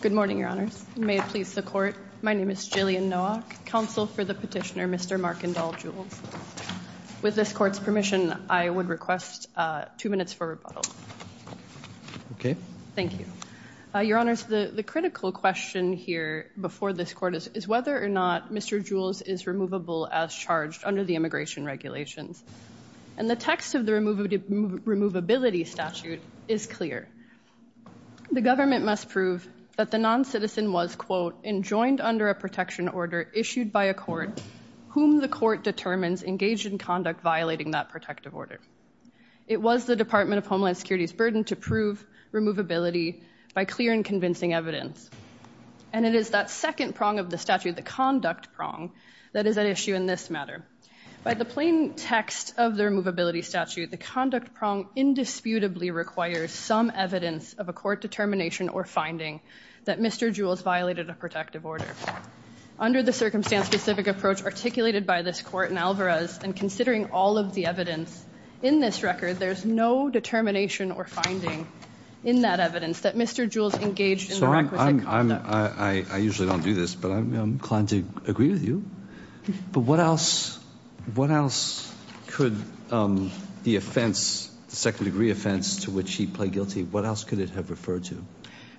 Good morning, Your Honors. May it please the Court, my name is Jillian Nowak, counsel for the petitioner, Mr. Markendahl Jules. With this Court's permission, I would request two minutes for rebuttal. Okay. Thank you. Your Honors, the critical question here before this Court is whether or not Mr. Jules is removable as charged under the immigration regulations. And the text of the removability statute is clear. The government must prove that the noncitizen was, quote, enjoined under a protection order issued by a court whom the court determines engaged in conduct violating that protective order. It was the Department of Homeland Security's burden to prove removability by clear and convincing evidence. And it is that second prong of the statute, the conduct prong, that is at issue in this matter. By the plain text of the removability statute, the conduct prong indisputably requires some evidence of a court determination or finding that Mr. Jules violated a protective order. Under the circumstance-specific approach articulated by this Court in Alvarez, and considering all of the evidence in this record, there's no determination or finding in that evidence that Mr. Jules engaged in the requisite conduct. I usually don't do this, but I'm inclined to agree with you. But what else could the offense, the second-degree offense to which he pled guilty, what else could it have referred to?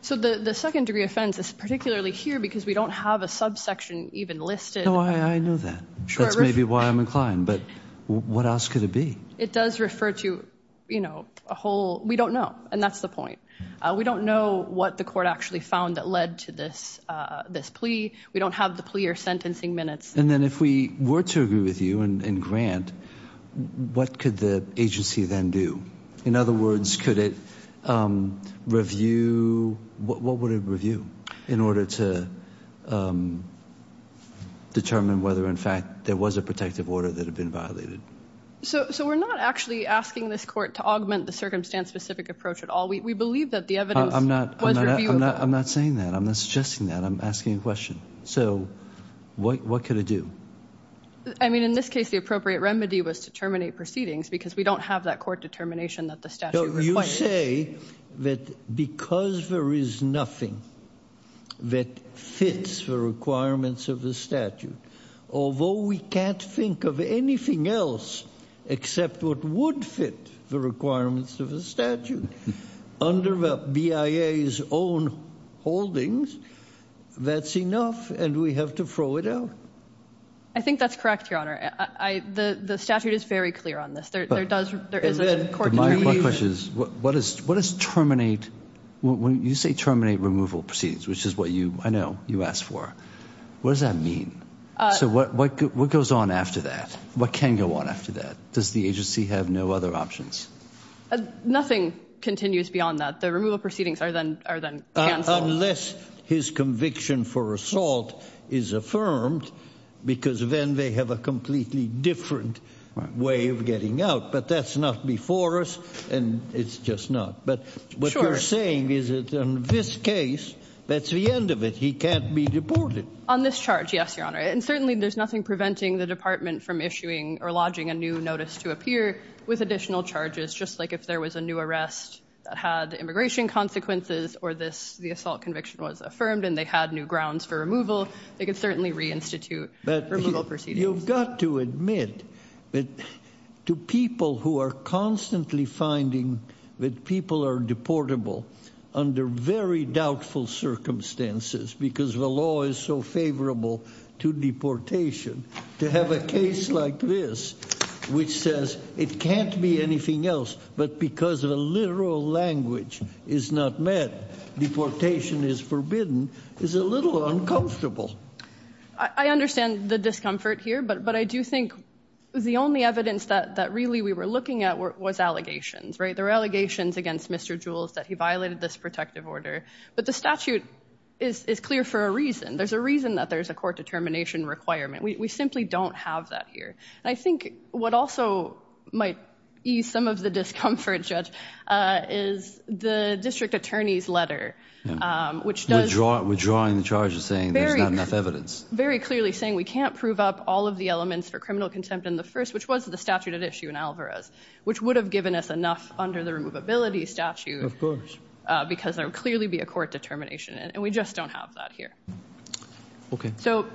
So the second-degree offense is particularly here because we don't have a subsection even listed. No, I know that. That's maybe why I'm inclined, but what else could it be? It does refer to, you know, a whole, we don't know, and that's the point. We don't know what the court actually found that led to this plea. We don't have the plea or sentencing minutes. And then if we were to agree with you and grant, what could the agency then do? In other words, could it review, what would it review in order to determine whether, in fact, there was a protective order that had been violated? So we're not actually asking this Court to augment the circumstance-specific approach at all. We believe that the evidence was reviewable. I'm not saying that. I'm not suggesting that. I'm asking a question. So what could it do? I mean, in this case, the appropriate remedy was to terminate proceedings because we don't have that court determination that the statute requires. You say that because there is nothing that fits the requirements of the statute, although we can't think of anything else except what would fit the requirements of the statute. Under the BIA's own holdings, that's enough, and we have to throw it out. I think that's correct, Your Honor. The statute is very clear on this. There is a court determination. But my question is, what does terminate, when you say terminate removal proceedings, which is what you, I know, you asked for, what does that mean? So what goes on after that? What can go on after that? Does the agency have no other options? Nothing continues beyond that. The removal proceedings are then canceled. Unless his conviction for assault is affirmed, because then they have a completely different way of getting out. But that's not before us, and it's just not. But what you're saying is that in this case, that's the end of it. He can't be deported. On this charge, yes, Your Honor. And certainly there's nothing preventing the department from issuing or lodging a new notice to appear with additional charges, just like if there was a new arrest that had immigration consequences or this, the assault conviction was affirmed and they had new grounds for removal, they could certainly reinstitute removal proceedings. But you've got to admit that to people who are constantly finding that people are deportable under very doubtful circumstances, because the law is so favorable to deportation, to have a case like this, which says it can't be anything else, but because of a literal language is not met, deportation is forbidden, is a little uncomfortable. I understand the discomfort here, but I do think the only evidence that really we were looking at was allegations, right? There were allegations against Mr. Jules that he violated this protective order. But the statute is clear for a reason. There's a reason that there's a court determination requirement. We simply don't have that here. I think what also might ease some of the discomfort, Judge, is the district attorney's letter, which does- Withdrawing the charges saying there's not enough evidence. Very clearly saying we can't prove up all of the elements for criminal contempt in the first, which was the statute at issue in Alvarez, which would have given us enough under the removability statute because there would clearly be a court determination. And we just don't have that here. Okay. So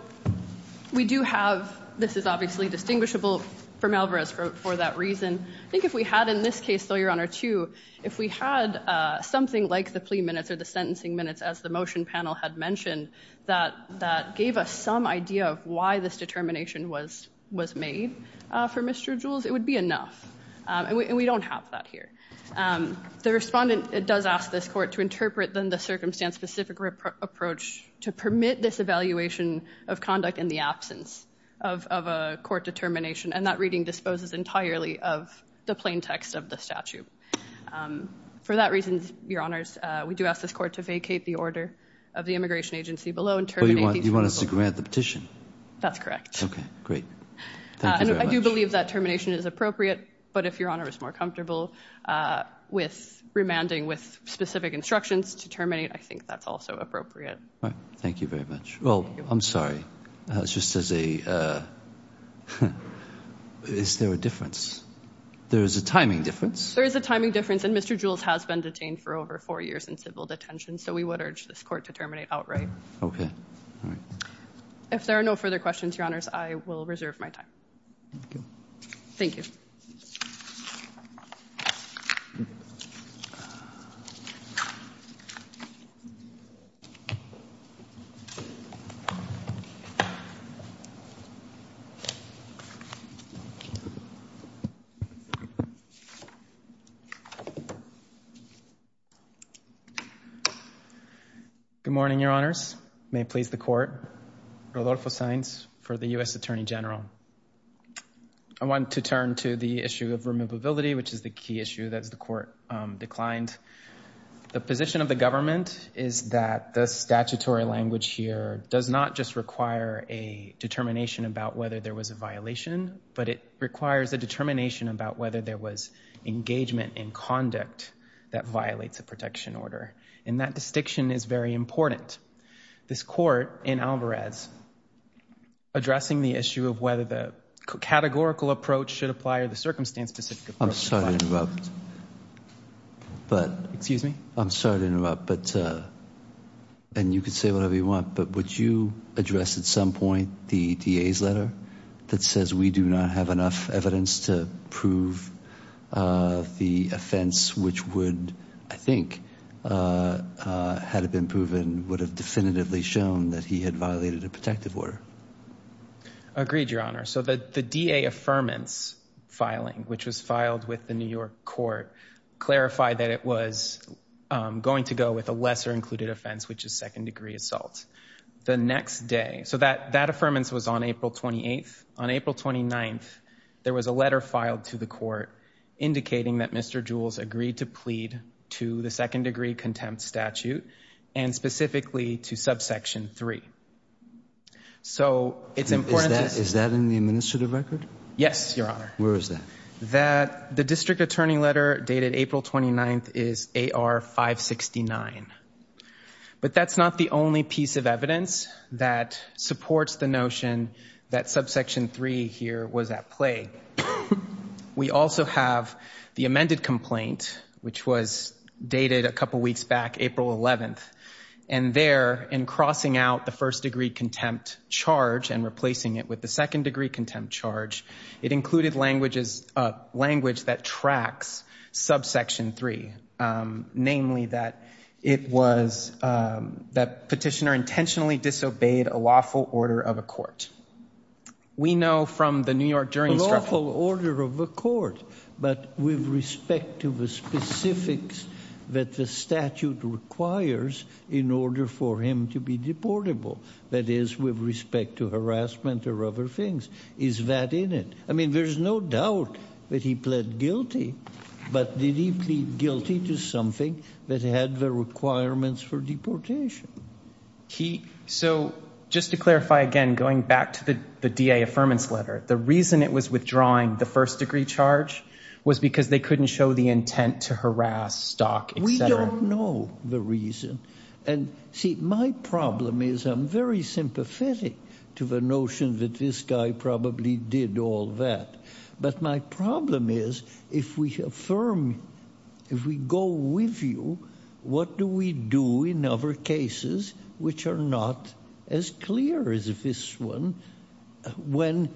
we do have, this is obviously distinguishable from Alvarez for that reason. I think if we had in this case, though, Your Honor, too, if we had something like the plea minutes or the sentencing minutes, as the motion panel had mentioned, that gave us some idea of why this determination was made for Mr. Jules, it would be enough. And we don't have that here. The respondent does ask this court to interpret, then, the circumstance specific approach to permit this evaluation of conduct in the absence of a court determination. And that reading disposes entirely of the plain text of the statute. For that reason, Your Honors, we do ask this court to vacate the order of the immigration agency below and terminate these- But you want us to grant the petition? That's correct. Okay, great. Thank you very much. We believe that termination is appropriate. But if Your Honor is more comfortable with remanding with specific instructions to terminate, I think that's also appropriate. Thank you very much. Well, I'm sorry. It's just as a, is there a difference? There is a timing difference? There is a timing difference. And Mr. Jules has been detained for over four years in civil detention. So we would urge this court to terminate outright. Okay. If there are no further questions, Your Honors, I will reserve my time. Thank you. Thank you. Good morning, Your Honors. May it please the court, Rodolfo Saenz for the U.S. Attorney General. I want to turn to the issue of removability, which is the key issue that the court declined. The position of the government is that the statutory language here does not just require a determination about whether there was a violation, but it requires a determination about whether there was engagement in conduct that violates a protection order. And that jurisdiction is very important. This court in Alvarez, addressing the issue of whether the categorical approach should apply or the circumstance-specific approach should apply. I'm sorry to interrupt. Excuse me? I'm sorry to interrupt, but, and you can say whatever you want, but would you address at some point the DA's letter that says we do not have enough evidence to prove the offense which would, I think, had it been proven, would have definitively shown that he had violated a protective order? Agreed, Your Honor. So the DA affirmance filing, which was filed with the New York court, clarified that it was going to go with a lesser included offense, which is second degree assault. The next day, so that affirmance was on April 28th. On April 29th, there was a letter filed to the court indicating that Mr. Jules agreed to plead to the second degree contempt statute and specifically to subsection three. So it's important to... Is that in the administrative record? Yes, Your Honor. Where is that? That the district attorney letter dated April 29th is AR 569. But that's not the only piece of evidence that supports the notion that subsection three here was at play. We also have the amended complaint, which was dated a couple of weeks back, April 11th. And there, in crossing out the first degree contempt charge and replacing it with the second degree contempt charge, it included language that tracks subsection three, namely that it was, that petitioner intentionally disobeyed a lawful order of a court. We know from the New York jury... A lawful order of a court, but with respect to the specifics that the statute requires in order for him to be deportable, that is with respect to harassment or other things. Is that in it? I mean, there's no doubt that he pled guilty, but did he plead guilty to something that had the requirements for deportation? So just to clarify again, going back to the DA affirmance letter, the reason it was withdrawing the first degree charge was because they couldn't show the intent to harass, stalk, et cetera. We don't know the reason. And see, my problem is I'm very sympathetic to the notion that this guy probably did all that. But my problem is if we affirm, if we go with you, what do we do in other cases which are not as clear as this one, when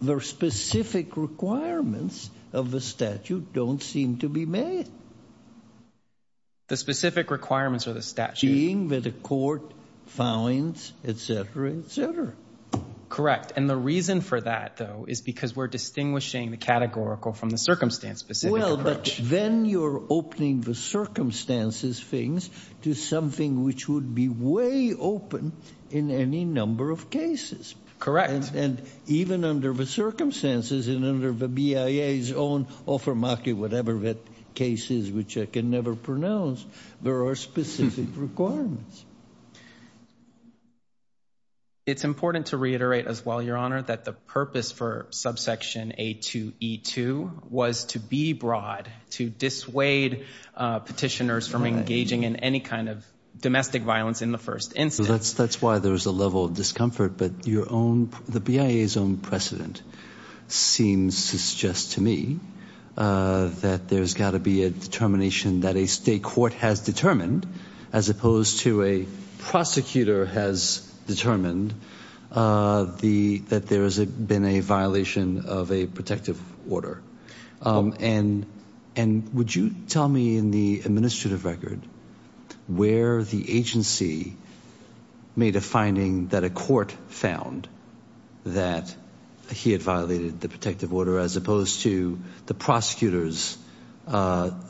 the specific requirements of the statute don't seem to be made? The specific requirements of the statute... Being that a court finds, et cetera, et cetera. Correct. And the reason for that, though, is because we're distinguishing the categorical from the circumstance-specific approach. Well, but then you're opening the circumstances things to something which would be way open in any number of cases. Correct. And even under the circumstances and under the BIA's own offer market, whatever that case is, which I can never pronounce, there are specific requirements. It's important to reiterate as well, Your Honor, that the purpose for subsection A2E2 was to be broad, to dissuade petitioners from engaging in any kind of domestic violence in the first instance. That's why there was a level of discomfort. But the BIA's own precedent seems to suggest to me that there's got to be a determination that a state court has determined as opposed to a prosecutor has determined that there has been a violation of a protective order. And would you tell me in the administrative record where the agency made a finding that a court found that he had violated the protective order as opposed to the prosecutors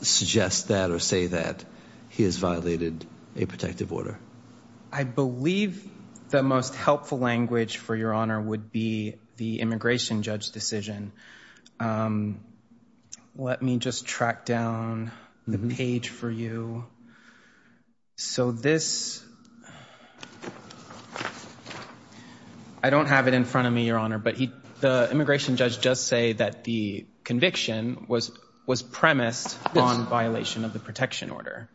suggest that or say that he has violated a protective order? I believe the most helpful language for Your Honor would be the immigration judge decision. Let me just track down the page for you. So this, I don't have it in front of me, Your Honor, but the immigration judge does say that the conviction was premised on violation of the protection order.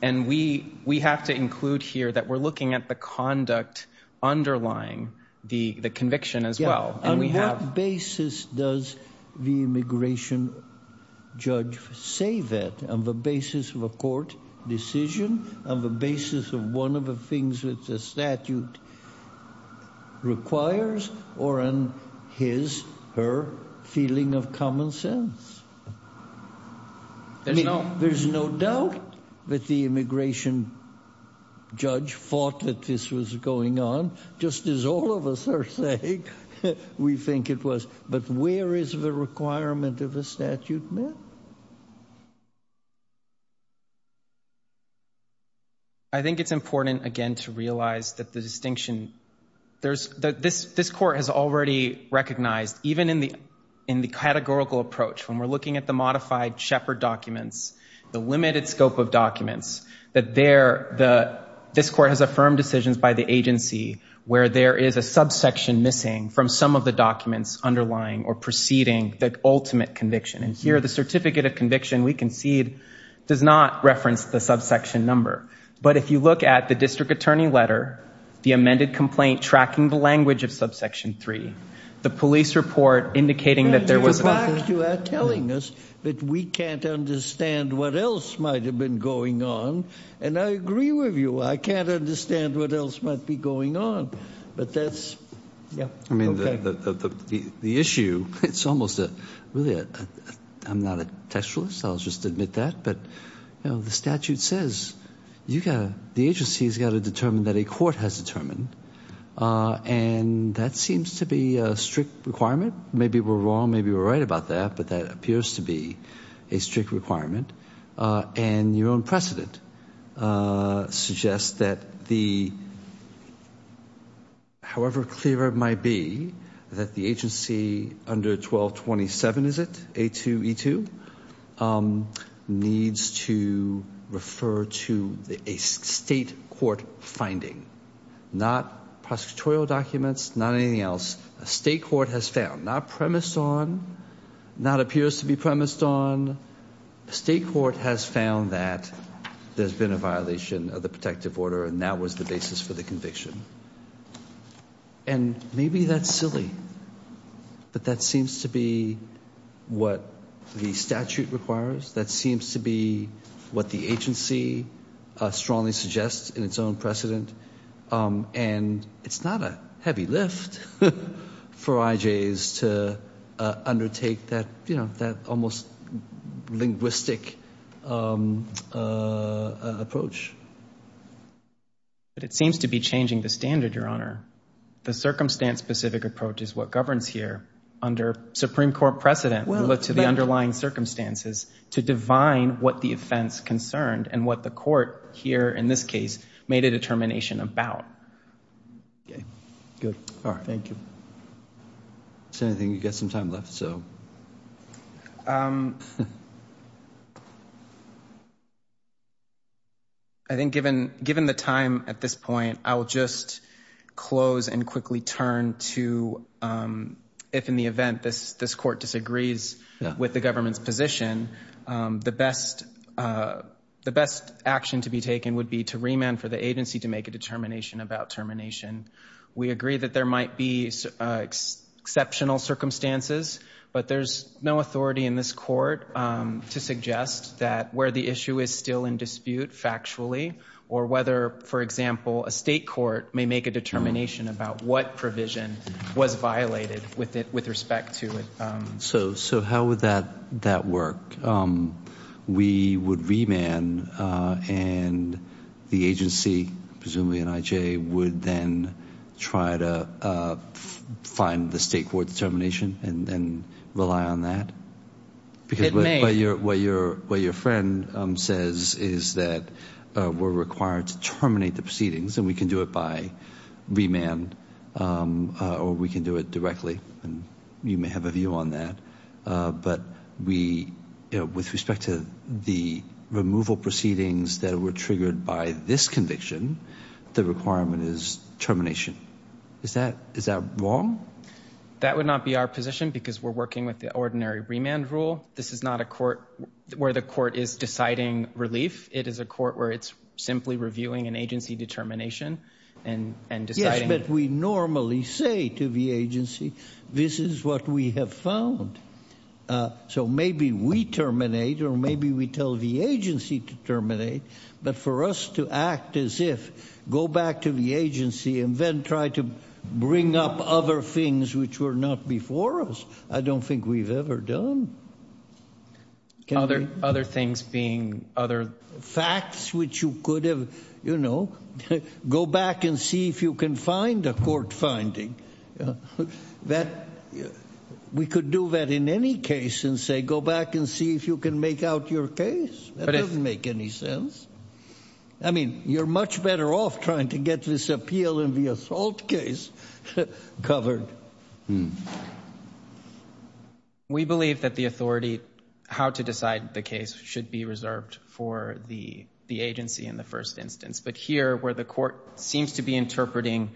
And we have to include here that we're looking at the conduct underlying the conviction as well. On what basis does the immigration judge say that? On the basis of a court decision, on the basis of one of the things that the statute requires, or on his or her feeling of common sense? There's no doubt that the immigration judge thought that this was going on, just as all of us are saying we think it was. But where is the requirement of a statute met? I think it's important, again, to realize that the distinction, there's, this court has already recognized, even in the categorical approach, when we're looking at the modified Shepard documents, the limited scope of documents, that this court has affirmed decisions by the agency where there is a subsection missing from some of the documents underlying or preceding the ultimate conviction. And here, the certificate of conviction, we concede, does not reference the subsection number. But if you look at the district attorney letter, the amended complaint tracking the language of subsection 3, the police report indicating that there was an offense. You are telling us that we can't understand what else might have been going on. And I agree with you, I can't understand what else might be going on. But that's, yeah. Okay. I mean, the issue, it's almost a, really, I'm not a textualist, I'll just admit that, but the statute says the agency's got to determine that a court has determined, and that seems to be a strict requirement. Maybe we're wrong, maybe we're right about that, but that appears to be a strict requirement. And your own precedent suggests that the, however clear it might be, that the agency under 1227, is it, A2E2, needs to refer to a state court finding, not prosecutorial documents, not anything else. A state court has found, not premised on, not appears to be premised on, a state court has found that there's been a violation of the protective order and that was the basis for the conviction. And maybe that's silly, but that seems to be what the statute requires, that seems to be what the agency strongly suggests in its own precedent. And it's not a heavy lift for IJs to undertake that, you know, that almost linguistic approach. But it seems to be changing the standard, Your Honor. The circumstance-specific approach is what governs here under Supreme Court precedent relative to the underlying circumstances to divine what the offense concerned and what the court here, in this case, made a determination about. Okay. Good. All right. Thank you. Is there anything? You've got some time left, so. I think given the time at this point, I will just close and quickly turn to if in the event this court disagrees with the government's position, the best action to be taken would be to remand for the agency to make a determination about termination. We agree that there might be exceptional circumstances, but there's no authority in this court to suggest that where the issue is still in dispute factually or whether, for example, a state about what provision was violated with respect to it. So how would that work? We would remand, and the agency, presumably an IJ, would then try to find the state court determination and rely on that? It may. Because what your friend says is that we're required to terminate the proceedings, and we can do it by remand, or we can do it directly. You may have a view on that, but with respect to the removal proceedings that were triggered by this conviction, the requirement is termination. Is that wrong? That would not be our position because we're working with the ordinary remand rule. This is not a court where the court is deciding relief. It is a court where it's simply reviewing an agency determination and deciding. Yes, but we normally say to the agency, this is what we have found. So maybe we terminate, or maybe we tell the agency to terminate. But for us to act as if, go back to the agency and then try to bring up other things which were not before us, I don't think we've ever done. Other things being other facts which you could have, you know, go back and see if you can find a court finding. We could do that in any case and say, go back and see if you can make out your case. That doesn't make any sense. I mean, you're much better off trying to get this appeal and the assault case covered. We believe that the authority, how to decide the case, should be reserved for the agency in the first instance. But here, where the court seems to be interpreting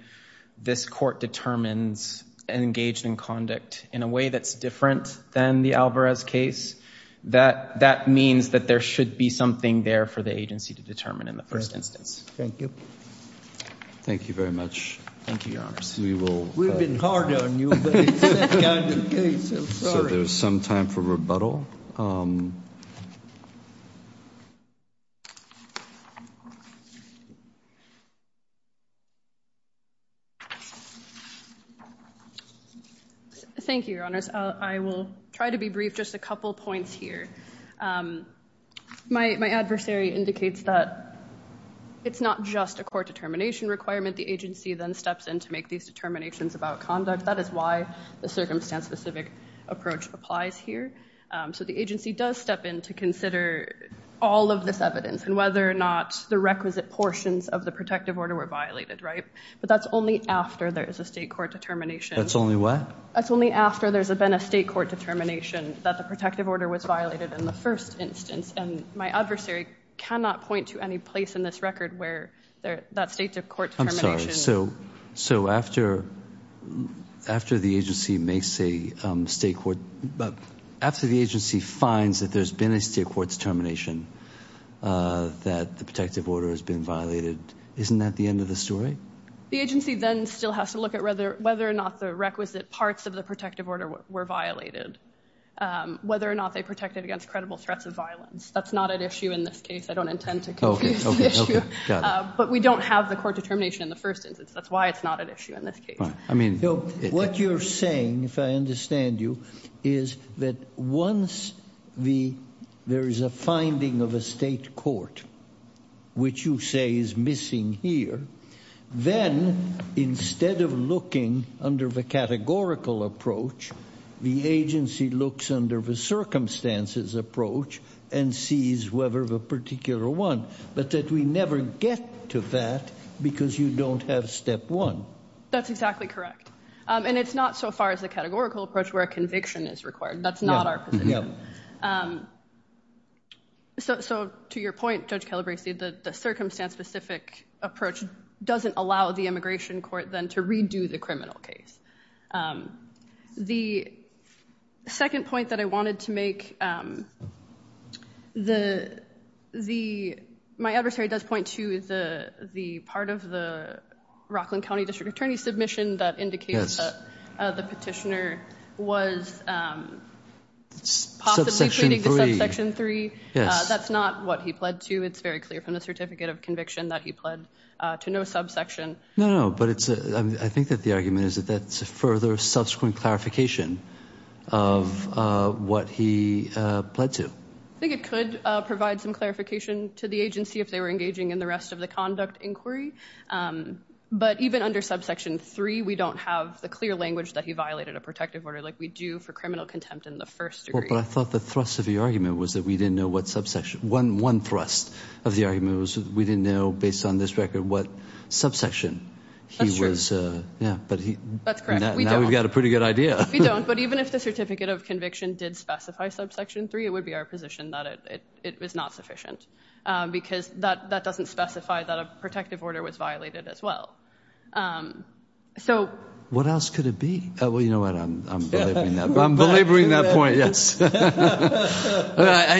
this court determines and engaged in conduct in a way that's different than the Alvarez case, that means that there should be something there for the agency to determine in the first instance. Thank you very much. Thank you, Your Honor. We've been hard on you, but it's that kind of case. I'm sorry. So there's some time for rebuttal. Thank you, Your Honors. I will try to be brief. Just a couple points here. My adversary indicates that it's not just a court determination requirement. The agency then steps in to make these determinations about conduct. That is why the circumstance-specific approach applies here. So the agency does step in to consider all of this evidence and whether or not the requisite portions of the protective order were violated, right? But that's only after there is a state court determination. That's only what? That's only after there's been a state court determination that the protective order was violated in the first instance. And my adversary cannot point to any place in this record where that state court determination Sorry. So after the agency makes a state court, after the agency finds that there's been a state court determination that the protective order has been violated, isn't that the end of the story? The agency then still has to look at whether or not the requisite parts of the protective order were violated, whether or not they protected against credible threats of violence. That's not an issue in this case. I don't intend to confuse the issue. But we don't have the court determination in the first instance. That's why it's not an issue in this case. What you're saying, if I understand you, is that once there is a finding of a state court which you say is missing here, then instead of looking under the categorical approach, the agency looks under the circumstances approach and sees whether the particular one, but that we never get to that because you don't have step one. That's exactly correct. And it's not so far as the categorical approach where a conviction is required. That's not our position. So to your point, Judge Calabresi, the circumstance specific approach doesn't allow the immigration court then to redo the criminal case. The second point that I wanted to make, my adversary does point to the part of the Rockland County District Attorney submission that indicates the petitioner was possibly pleading to subsection three. That's not what he pled to. It's very clear from the certificate of conviction that he pled to no subsection. No, no, no. But I think that the argument is that that's a further subsequent clarification of what he pled to. I think it could provide some clarification to the agency if they were engaging in the rest of the conduct inquiry. But even under subsection three, we don't have the clear language that he violated a protective order like we do for criminal contempt in the first degree. But I thought the thrust of the argument was that we didn't know what subsection, one thrust of the argument was we didn't know based on this record what subsection he was. That's true. Yeah. That's correct. We don't. Now we've got a pretty good idea. We don't. But even if the certificate of conviction did specify subsection three, it would be our position that it was not sufficient because that doesn't specify that a protective order was violated as well. So. What else could it be? Well, you know what? I'm belaboring that. I'm belaboring that point, yes.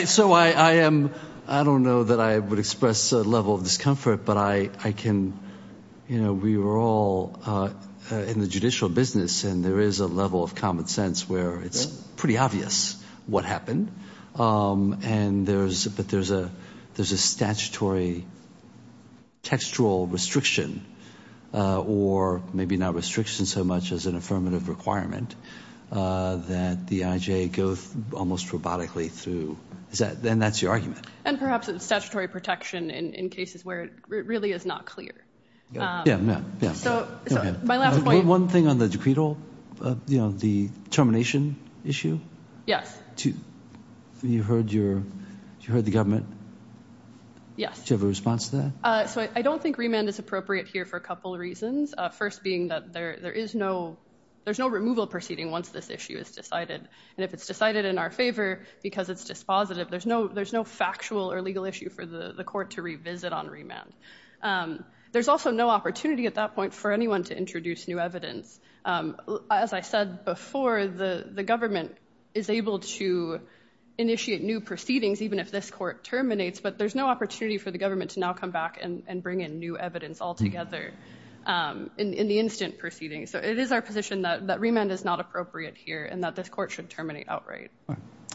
So I am, I don't know that I would express a level of discomfort, but I, I can, you know, we were all in the judicial business and there is a level of common sense where it's pretty obvious what happened. And there's, but there's a, there's a statutory textual restriction or maybe not restriction so much as an affirmative requirement that the IJ goes almost robotically through. Is that, and that's your argument. And perhaps it's statutory protection in cases where it really is not clear. Yeah. Yeah. Yeah. So my last point. One thing on the decreed, you know, the termination issue. Yes. You heard your, you heard the government. Yes. Do you have a response to that? So I don't think remand is appropriate here for a couple of reasons. First being that there, there is no, there's no removal proceeding once this issue is decided. And if it's decided in our favor because it's dispositive, there's no, there's no factual or legal issue for the court to revisit on remand. There's also no opportunity at that point for anyone to introduce new evidence. As I said before, the government is able to initiate new proceedings, even if this court terminates, but there's no opportunity for the government to now come back and bring in new evidence altogether. In the instant proceeding. So it is our position that remand is not appropriate here and that this court should terminate outright.